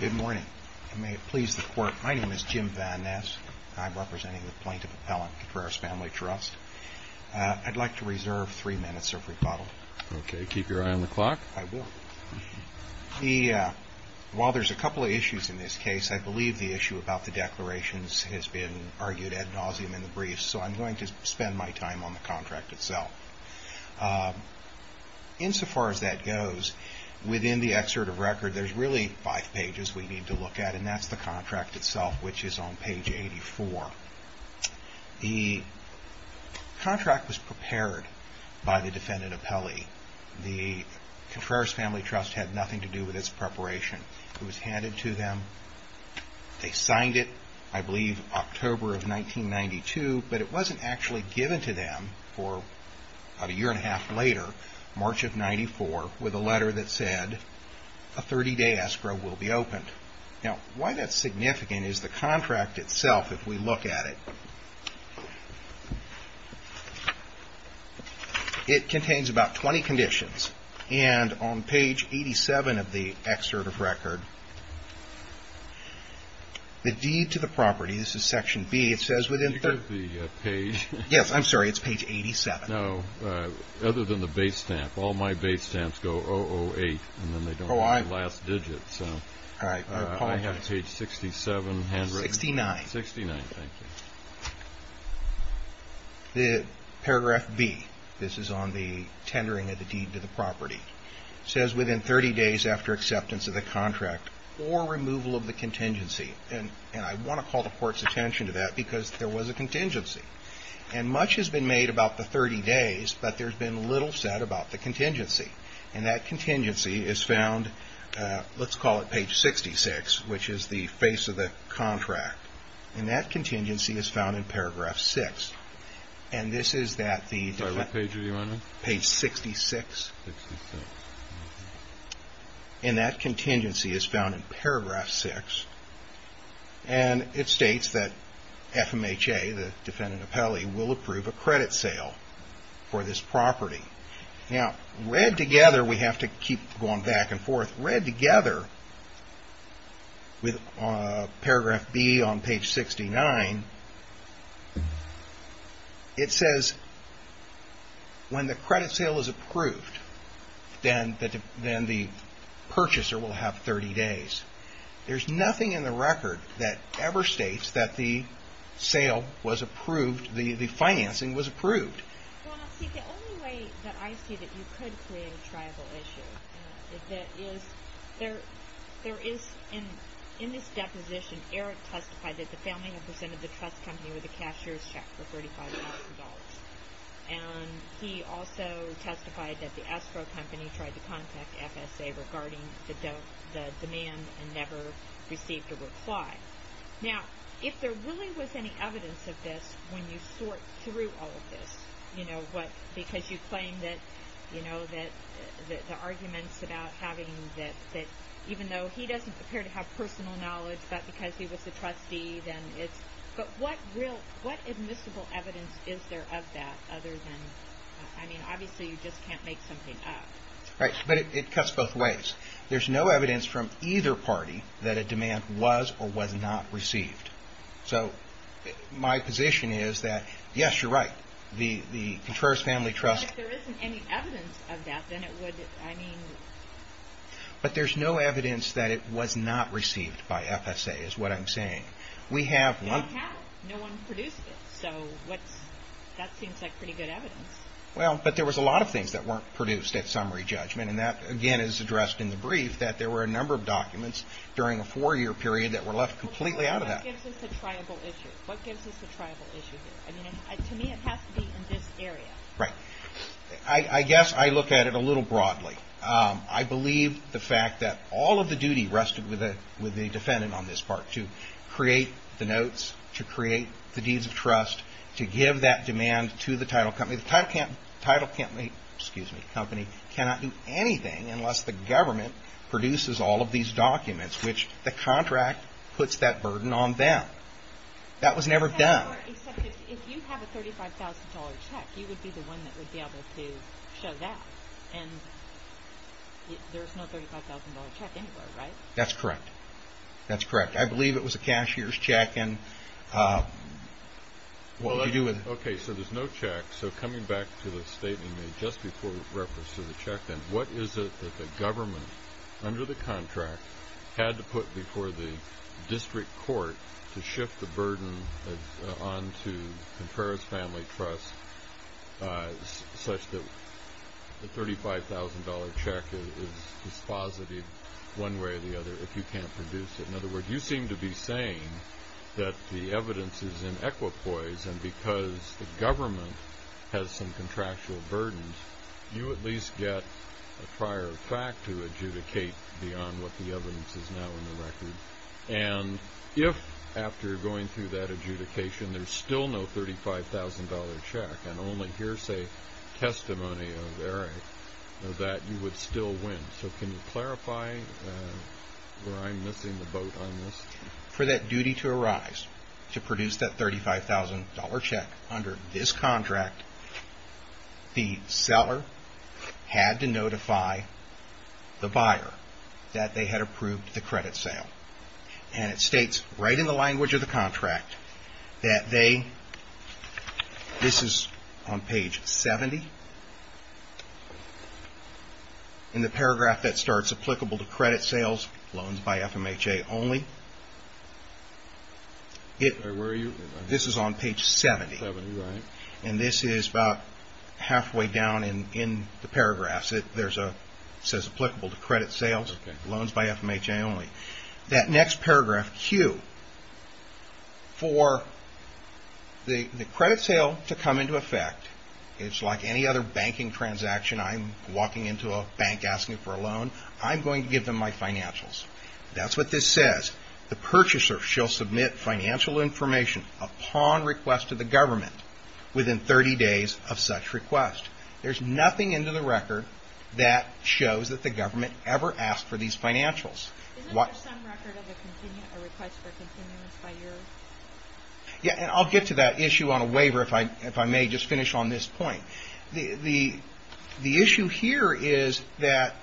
Good morning. May it please the court, my name is Jim Van Ness. I'm representing the plaintiff appellant, Contreras Family Trust. I'd like to reserve three minutes of rebuttal. Okay, keep your eye on the clock. I will. While there's a couple of issues in this case, I believe the issue about the declarations has been argued ad nauseum in the briefs, so I'm going to spend my time on the contract itself. Insofar as that goes, within the excerpt of record, there's really five pages we need to look at, and that's the contract itself, which is on page 84. The contract was prepared by the defendant appellee. The Contreras Family Trust had nothing to do with its preparation. It was handed to them, they signed it, I believe October of 1992, but it wasn't actually given to them for about a year and a half later, March of 1994, with a letter that said a 30-day escrow will be opened. Now, why that's significant is the contract itself, if we look at it, it contains about 20 conditions, and on page 87 of the excerpt of record, the deed to the property, this is section B, it says within 30 days after acceptance of the contract for removal of the contingency, and I want to call the court's attention to that because there was a contingency, and much has been made about the 30 days, but there's been little said about the contingency, and that contingency is found, let's call it page 66, which is the face of the contract, and that contingency is found in paragraph 6. And this is that the- Sorry, what page were you on? Page 66. 66. And that contingency is found in paragraph 6, and it states that FMHA, the defendant appellee, will approve a credit sale for this property. Now, read together, we have to keep going back and forth, read together with paragraph B on page 69, it says when the credit sale is approved, then the purchaser will have 30 days. There's nothing in the record that ever states that the sale was approved, the financing was approved. Well, now, see, the only way that I see that you could create a tribal issue is there is, in this deposition, Eric testified that the family had presented the trust company with a cashier's check for $35,000, and he also testified that the Estro Company tried to contact FSA regarding the demand and never received a reply. Okay. Now, if there really was any evidence of this when you sort through all of this, you know, what, because you claim that, you know, that the arguments about having that, even though he doesn't appear to have personal knowledge, but because he was a trustee, then it's, but what real, what admissible evidence is there of that other than, I mean, obviously you just can't make something up. Right, but it cuts both ways. There's no evidence from either party that a demand was or was not received. So my position is that, yes, you're right, the Contreras Family Trust. But if there isn't any evidence of that, then it would, I mean. But there's no evidence that it was not received by FSA is what I'm saying. We have one. We don't have it. No one produced it. So what's, that seems like pretty good evidence. Well, but there was a lot of things that weren't produced at summary judgment. And that, again, is addressed in the brief that there were a number of documents during a four-year period that were left completely out of that. Well, what gives us a triable issue? What gives us a triable issue here? I mean, to me, it has to be in this area. Right. I guess I look at it a little broadly. I believe the fact that all of the duty rested with the defendant on this part, to create the notes, to create the deeds of trust, to give that demand to the title company. The title company cannot do anything unless the government produces all of these documents, which the contract puts that burden on them. That was never done. Except if you have a $35,000 check, you would be the one that would be able to show that. And there's no $35,000 check anywhere, right? That's correct. I believe it was a cashier's check. Okay, so there's no check. So coming back to the statement made just before reference to the check, then what is it that the government, under the contract, had to put before the district court to shift the burden on to Conferra's Family Trust, such that the $35,000 check is posited one way or the other if you can't produce it? In other words, you seem to be saying that the evidence is in equipoise, and because the government has some contractual burdens, you at least get a prior fact to adjudicate beyond what the evidence is now in the record. And if, after going through that adjudication, there's still no $35,000 check and only hearsay testimony of Eric, that you would still win. So can you clarify where I'm missing the boat on this? For that duty to arise, to produce that $35,000 check under this contract, the seller had to notify the buyer that they had approved the credit sale. And it states right in the language of the contract that they, this is on page 70. In the paragraph that starts, applicable to credit sales, loans by FMHA only. Where are you? This is on page 70. And this is about halfway down in the paragraphs. It says applicable to credit sales, loans by FMHA only. That next paragraph, Q, for the credit sale to come into effect, it's like any other banking transaction. I'm walking into a bank asking for a loan. I'm going to give them my financials. That's what this says. The purchaser shall submit financial information upon request to the government within 30 days of such request. There's nothing in the record that shows that the government ever asked for these financials. Isn't there some record of a request for continuance by you? Yeah, and I'll get to that issue on a waiver if I may just finish on this point. The issue here is that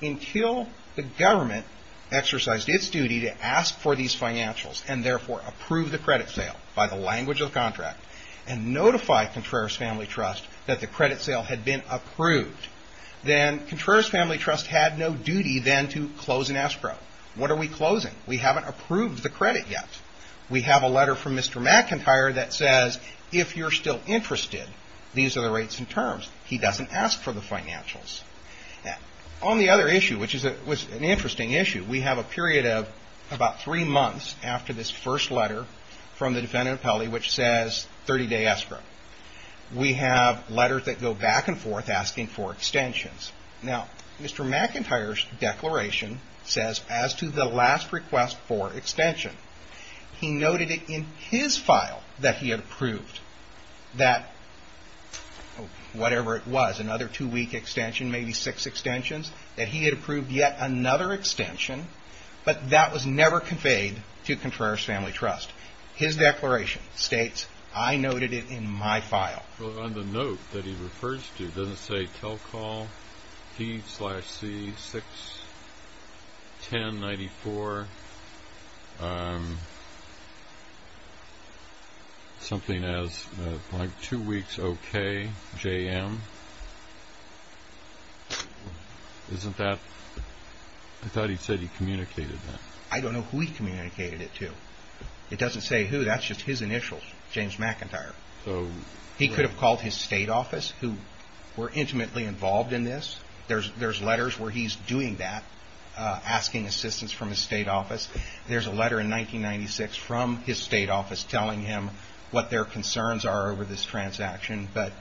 until the government exercised its duty to ask for these financials and therefore approve the credit sale by the language of the contract and notify Contreras Family Trust that the credit sale had been approved, then Contreras Family Trust had no duty then to close an escrow. What are we closing? We haven't approved the credit yet. We have a letter from Mr. McIntyre that says if you're still interested, these are the rates and terms. He doesn't ask for the financials. On the other issue, which was an interesting issue, we have a period of about three months after this first letter from the defendant appellee which says 30-day escrow. We have letters that go back and forth asking for extensions. Now, Mr. McIntyre's declaration says as to the last request for extension, he noted it in his file that he had approved that whatever it was, another two-week extension, maybe six extensions, that he had approved yet another extension, but that was never conveyed to Contreras Family Trust. His declaration states, I noted it in my file. Well, on the note that he refers to, it doesn't say tell call P-C-6-10-94, something as two weeks okay, J-M. I thought he said he communicated that. I don't know who he communicated it to. It doesn't say who. That's just his initials, James McIntyre. He could have called his state office who were intimately involved in this. There's letters where he's doing that, asking assistance from his state office. There's a letter in 1996 from his state office telling him what their concerns are over this transaction, but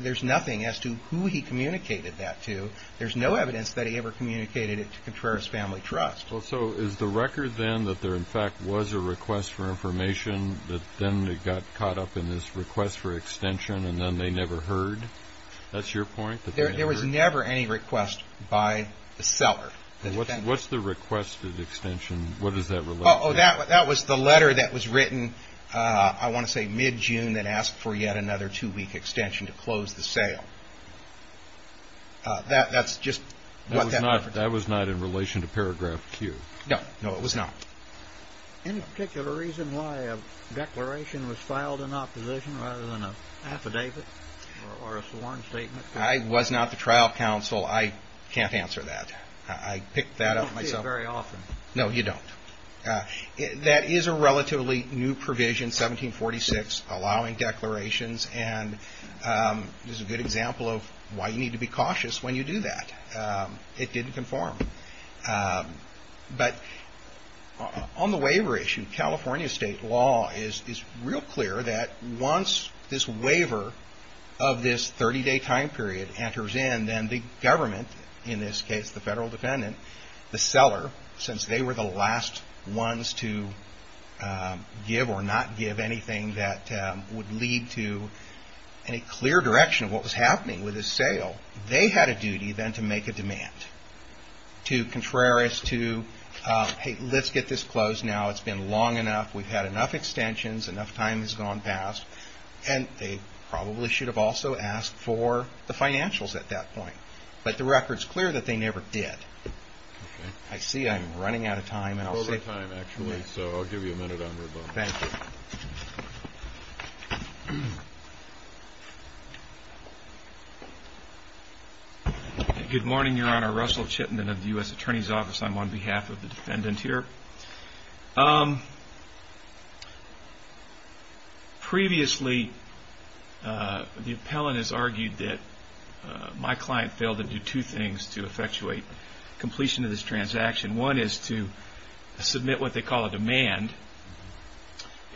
there's nothing as to who he communicated that to. There's no evidence that he ever communicated it to Contreras Family Trust. So is the record then that there, in fact, was a request for information, that then they got caught up in this request for extension and then they never heard? That's your point? There was never any request by the seller. What's the requested extension? What does that relate to? That was the letter that was written, I want to say mid-June, that asked for yet another two-week extension to close the sale. That's just what that letter did. That was not in relation to paragraph Q? No, it was not. Any particular reason why a declaration was filed in opposition rather than an affidavit or a sworn statement? I was not the trial counsel. I can't answer that. I picked that up myself. I don't see it very often. No, you don't. That is a relatively new provision, 1746, allowing declarations, and is a good example of why you need to be cautious when you do that. It didn't conform. But on the waiver issue, California state law is real clear that once this waiver of this 30-day time period enters in, then the government, in this case the federal defendant, the seller, since they were the last ones to give or not give anything that would lead to any clear direction of what was happening with the sale, they had a duty then to make a demand. To contrary us to, hey, let's get this closed now. It's been long enough. We've had enough extensions. Enough time has gone past. And they probably should have also asked for the financials at that point. But the record is clear that they never did. I see I'm running out of time. Over time, actually. So I'll give you a minute on rebuttal. Thank you. Thank you. Good morning, Your Honor. Russell Chittenden of the U.S. Attorney's Office. I'm on behalf of the defendant here. Previously, the appellant has argued that my client failed to do two things to effectuate completion of this transaction. One is to submit what they call a demand.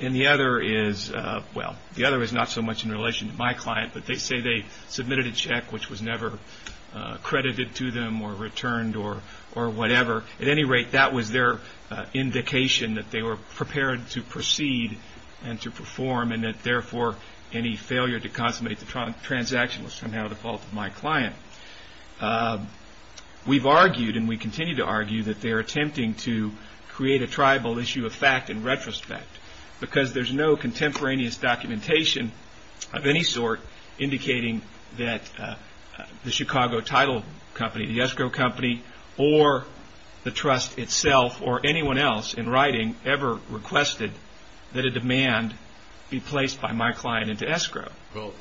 And the other is, well, the other is not so much in relation to my client, but they say they submitted a check which was never credited to them or returned or whatever. At any rate, that was their indication that they were prepared to proceed and to perform, and that, therefore, any failure to consummate the transaction was somehow the fault of my client. We've argued and we continue to argue that they're attempting to create a tribal issue of fact in retrospect because there's no contemporaneous documentation of any sort indicating that the Chicago title company, the escrow company or the trust itself or anyone else in writing ever requested that a demand be placed by my client into escrow. Well,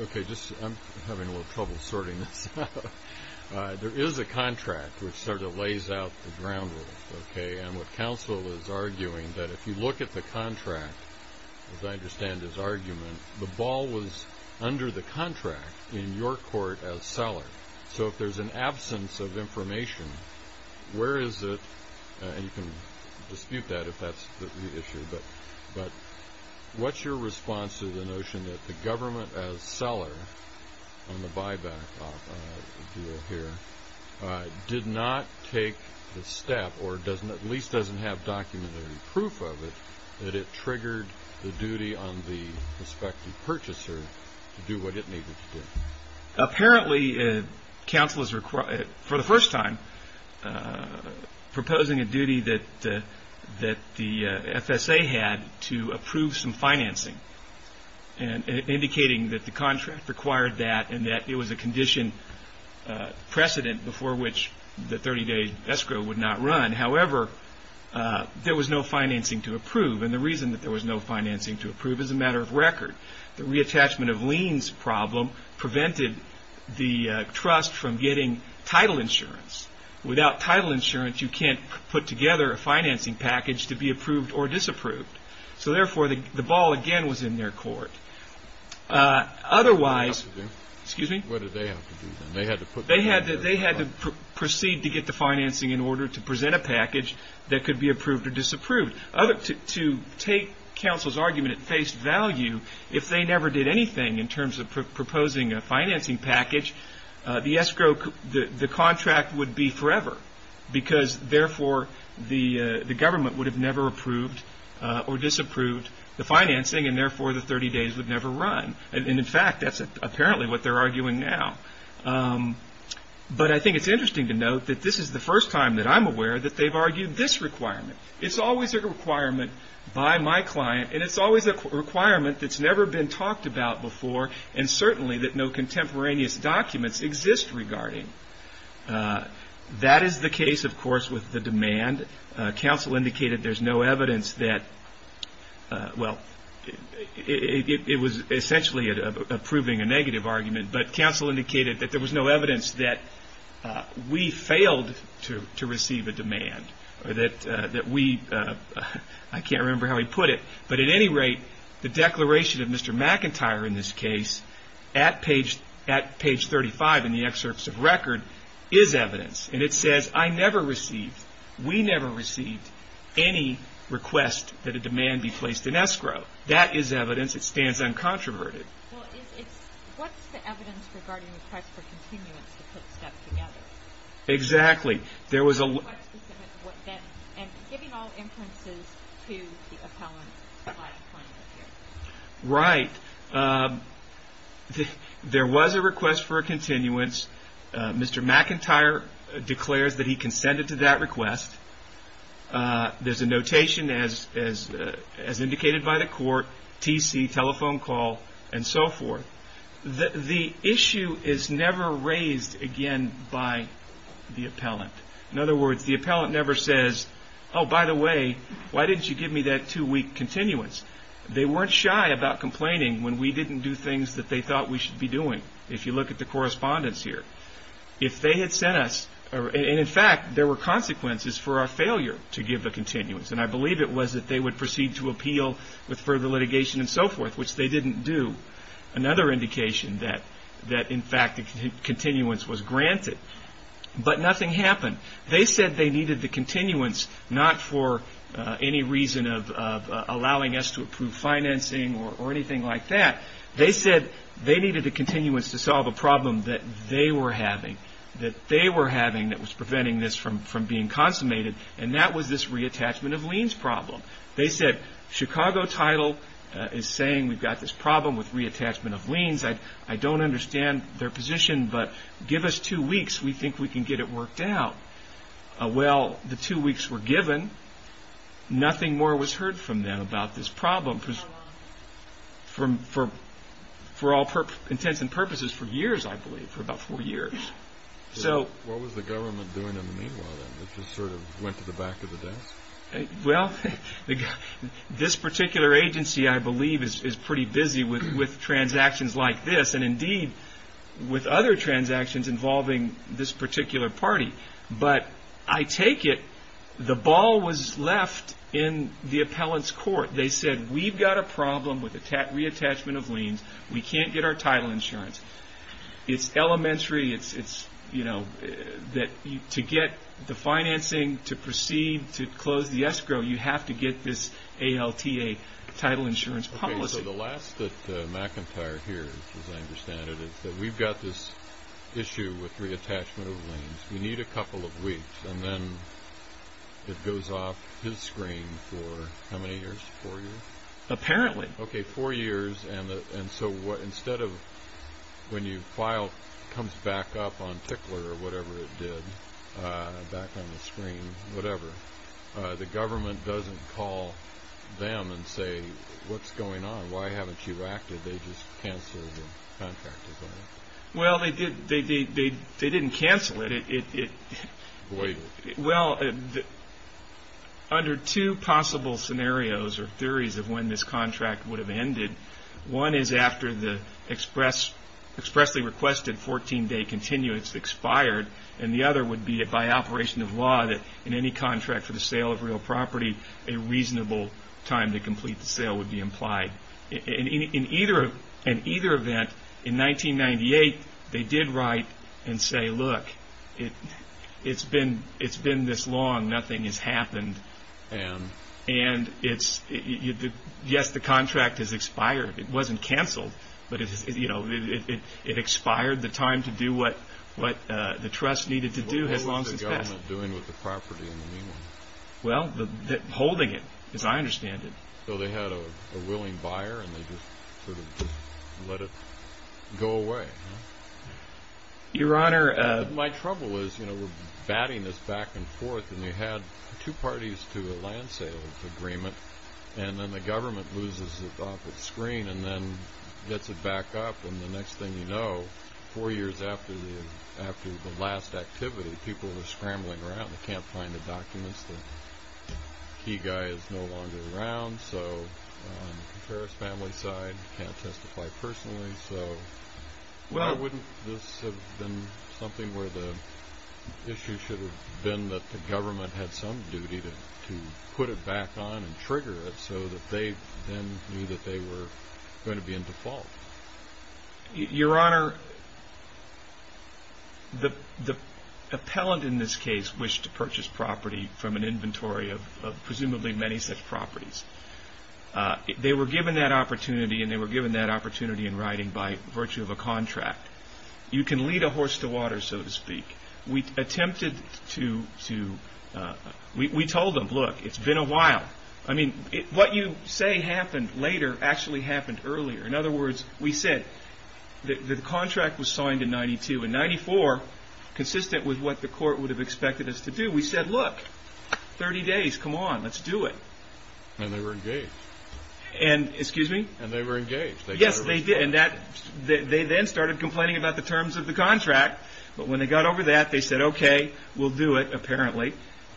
okay, I'm having a little trouble sorting this out. There is a contract which sort of lays out the ground rules, okay, and what counsel is arguing that if you look at the contract, as I understand his argument, the ball was under the contract in your court as seller. So if there's an absence of information, where is it? And you can dispute that if that's the issue, but what's your response to the notion that the government as seller on the buyback deal here did not take the step or at least doesn't have documentary proof of it that it triggered the duty on the prospective purchaser to do what it needed to do? Apparently, counsel is, for the first time, proposing a duty that the FSA had to approve some financing and indicating that the contract required that and that it was a condition precedent before which the 30-day escrow would not run. However, there was no financing to approve, and the reason that there was no financing to approve is a matter of record. The reattachment of liens problem prevented the trust from getting title insurance. Without title insurance, you can't put together a financing package to be approved or disapproved. So therefore, the ball again was in their court. Otherwise, they had to proceed to get the financing in order to present a package that could be approved or disapproved. To take counsel's argument at face value, if they never did anything in terms of proposing a financing package, the contract would be forever because therefore the government would have never approved or disapproved the financing and therefore the 30 days would never run. In fact, that's apparently what they're arguing now. But I think it's interesting to note that this is the first time that I'm aware that they've argued this requirement. It's always a requirement by my client, and it's always a requirement that's never been talked about before and certainly that no contemporaneous documents exist regarding. That is the case, of course, with the demand. Counsel indicated there's no evidence that, well, it was essentially approving a negative argument, but counsel indicated that there was no evidence that we failed to receive a demand or that we, I can't remember how he put it, but at any rate, the declaration of Mr. McIntyre in this case at page 35 in the excerpts of record is evidence, and it says, I never received, we never received any request that a demand be placed in escrow. That is evidence. It stands uncontroverted. Well, what's the evidence regarding request for continuance to put stuff together? Exactly. And giving all inferences to the appellant by appointment. Right. There was a request for a continuance. Mr. McIntyre declares that he consented to that request. There's a notation as indicated by the court, TC, telephone call, and so forth. The issue is never raised again by the appellant. In other words, the appellant never says, oh, by the way, why didn't you give me that two-week continuance? They weren't shy about complaining when we didn't do things that they thought we should be doing, if you look at the correspondence here. If they had sent us, and in fact, there were consequences for our failure to give the continuance, and I believe it was that they would proceed to appeal with further litigation and so forth, which they didn't do. Another indication that, in fact, the continuance was granted. But nothing happened. They said they needed the continuance not for any reason of allowing us to approve financing or anything like that. They said they needed the continuance to solve a problem that they were having, that they were having that was preventing this from being consummated, and that was this reattachment of liens problem. They said, Chicago Title is saying we've got this problem with reattachment of liens. I don't understand their position, but give us two weeks. We think we can get it worked out. Well, the two weeks were given. Nothing more was heard from them about this problem for all intents and purposes for years, I believe, for about four years. So what was the government doing in the meanwhile that just sort of went to the back of the desk? Well, this particular agency, I believe, is pretty busy with transactions like this, and indeed with other transactions involving this particular party. But I take it the ball was left in the appellant's court. They said we've got a problem with reattachment of liens. We can't get our title insurance. It's elementary. It's, you know, to get the financing to proceed to close the escrow, you have to get this ALTA title insurance policy. Okay, so the last that McIntyre hears, as I understand it, is that we've got this issue with reattachment of liens. We need a couple of weeks. And then it goes off his screen for how many years? Four years? Apparently. Okay, four years. And so instead of when your file comes back up on Tickler or whatever it did, back on the screen, whatever, the government doesn't call them and say, what's going on? Why haven't you acted? They just cancel the contract. Well, they didn't cancel it. Well, under two possible scenarios or theories of when this contract would have ended, one is after the expressly requested 14-day continuance expired, and the other would be by operation of law that in any contract for the sale of real property, a reasonable time to complete the sale would be implied. In either event, in 1998, they did write and say, look, it's been this long. Nothing has happened. And? And yes, the contract has expired. It wasn't canceled, but it expired. The time to do what the trust needed to do has long since passed. What was the government doing with the property in the meantime? Well, holding it, as I understand it. So they had a willing buyer, and they just sort of let it go away. Your Honor. My trouble is, you know, we're batting this back and forth, and they had two parties to a land sales agreement, and then the government loses it off its screen and then gets it back up, and the next thing you know, four years after the last activity, people are scrambling around. They can't find the documents. The key guy is no longer around. So on the Comparis family side, can't testify personally. So why wouldn't this have been something where the issue should have been that the government had some duty to put it back on and trigger it so that they then knew that they were going to be in default? Your Honor, the appellant in this case wished to purchase property from an inventory of presumably many such properties. They were given that opportunity, and they were given that opportunity in writing by virtue of a contract. You can lead a horse to water, so to speak. We attempted to – we told them, look, it's been a while. I mean, what you say happened later actually happened earlier. In other words, we said the contract was signed in 92, and 94, consistent with what the court would have expected us to do, we said, look, 30 days, come on, let's do it. And they were engaged. Excuse me? And they were engaged. Yes, they did, and they then started complaining about the terms of the contract. But when they got over that, they said, okay, we'll do it, apparently.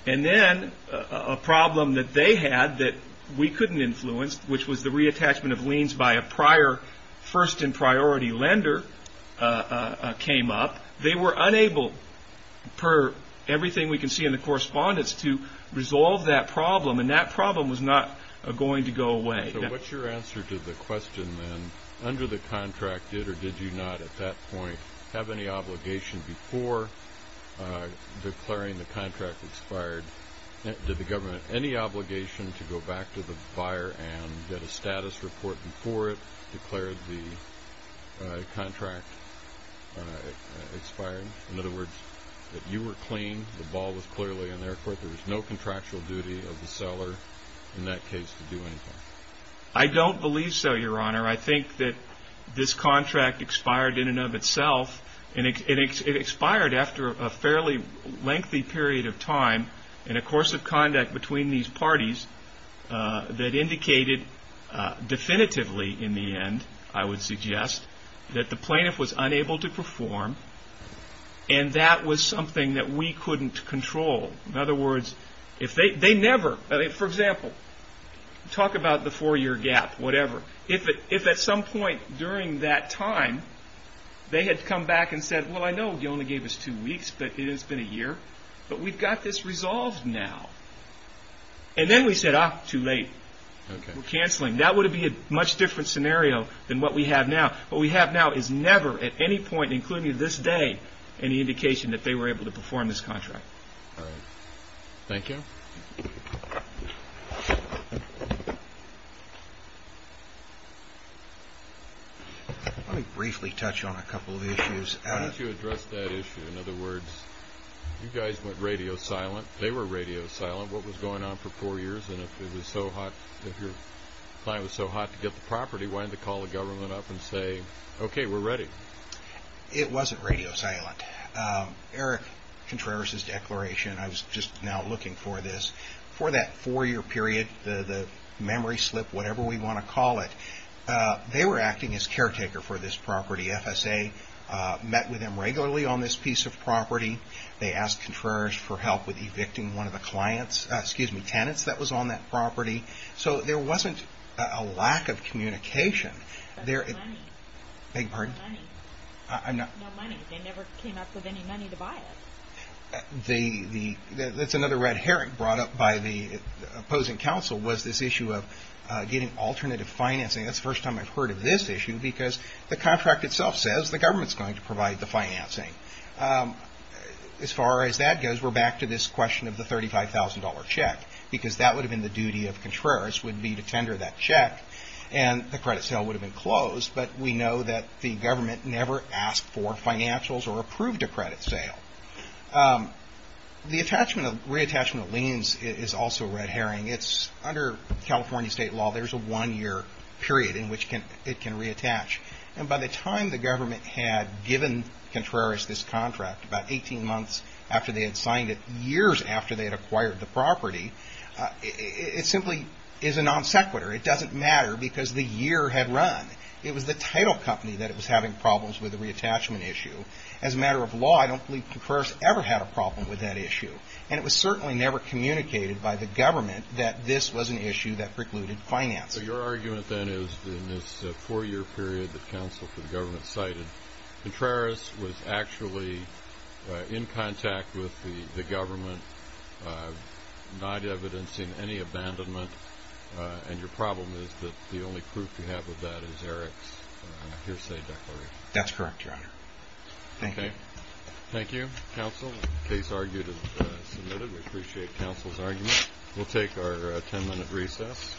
And then a problem that they had that we couldn't influence, which was the reattachment of liens by a prior first and priority lender came up. They were unable, per everything we can see in the correspondence, to resolve that problem, and that problem was not going to go away. So what's your answer to the question then, under the contract, did or did you not at that point have any obligation before declaring the contract expired? Did the government have any obligation to go back to the buyer and get a status report before it declared the contract expired? In other words, that you were clean, the ball was clearly in their court, there was no contractual duty of the seller in that case to do anything. I don't believe so, Your Honor. I think that this contract expired in and of itself, and it expired after a fairly lengthy period of time in a course of conduct between these parties that indicated definitively in the end, I would suggest, that the plaintiff was unable to perform, and that was something that we couldn't control. In other words, if they never, for example, talk about the four-year gap, whatever, if at some point during that time they had come back and said, well, I know you only gave us two weeks, but it has been a year, but we've got this resolved now. And then we said, ah, too late, we're canceling. That would have been a much different scenario than what we have now. What we have now is never at any point, including this day, any indication that they were able to perform this contract. All right. Thank you. Let me briefly touch on a couple of issues. How did you address that issue? In other words, you guys went radio silent. They were radio silent. What was going on for four years, and if your client was so hot to get the property, why didn't they call the government up and say, okay, we're ready? It wasn't radio silent. Eric Contreras' declaration, I was just now looking for this, for that four-year period, the memory slip, whatever we want to call it, they were acting as caretaker for this property. The FSA met with them regularly on this piece of property. They asked Contreras for help with evicting one of the clients, excuse me, tenants that was on that property. So there wasn't a lack of communication. But no money. Beg your pardon? No money. I'm not. No money. They never came up with any money to buy it. That's another red herring brought up by the opposing counsel, was this issue of getting alternative financing. That's the first time I've heard of this issue, because the contract itself says the government's going to provide the financing. As far as that goes, we're back to this question of the $35,000 check, because that would have been the duty of Contreras would be to tender that check, and the credit sale would have been closed. But we know that the government never asked for financials or approved a credit sale. The reattachment of liens is also a red herring. It's under California state law. There's a one-year period in which it can reattach. And by the time the government had given Contreras this contract, about 18 months after they had signed it, years after they had acquired the property, it simply is a non sequitur. It doesn't matter, because the year had run. It was the title company that was having problems with the reattachment issue. As a matter of law, I don't believe Contreras ever had a problem with that issue. And it was certainly never communicated by the government that this was an issue that precluded financing. So your argument, then, is in this four-year period that counsel for the government cited, Contreras was actually in contact with the government, not evidencing any abandonment. And your problem is that the only proof you have of that is Eric's hearsay declaration. That's correct, Your Honor. Thank you. Thank you. Counsel, the case argued is submitted. We appreciate counsel's argument. We'll take our ten-minute recess.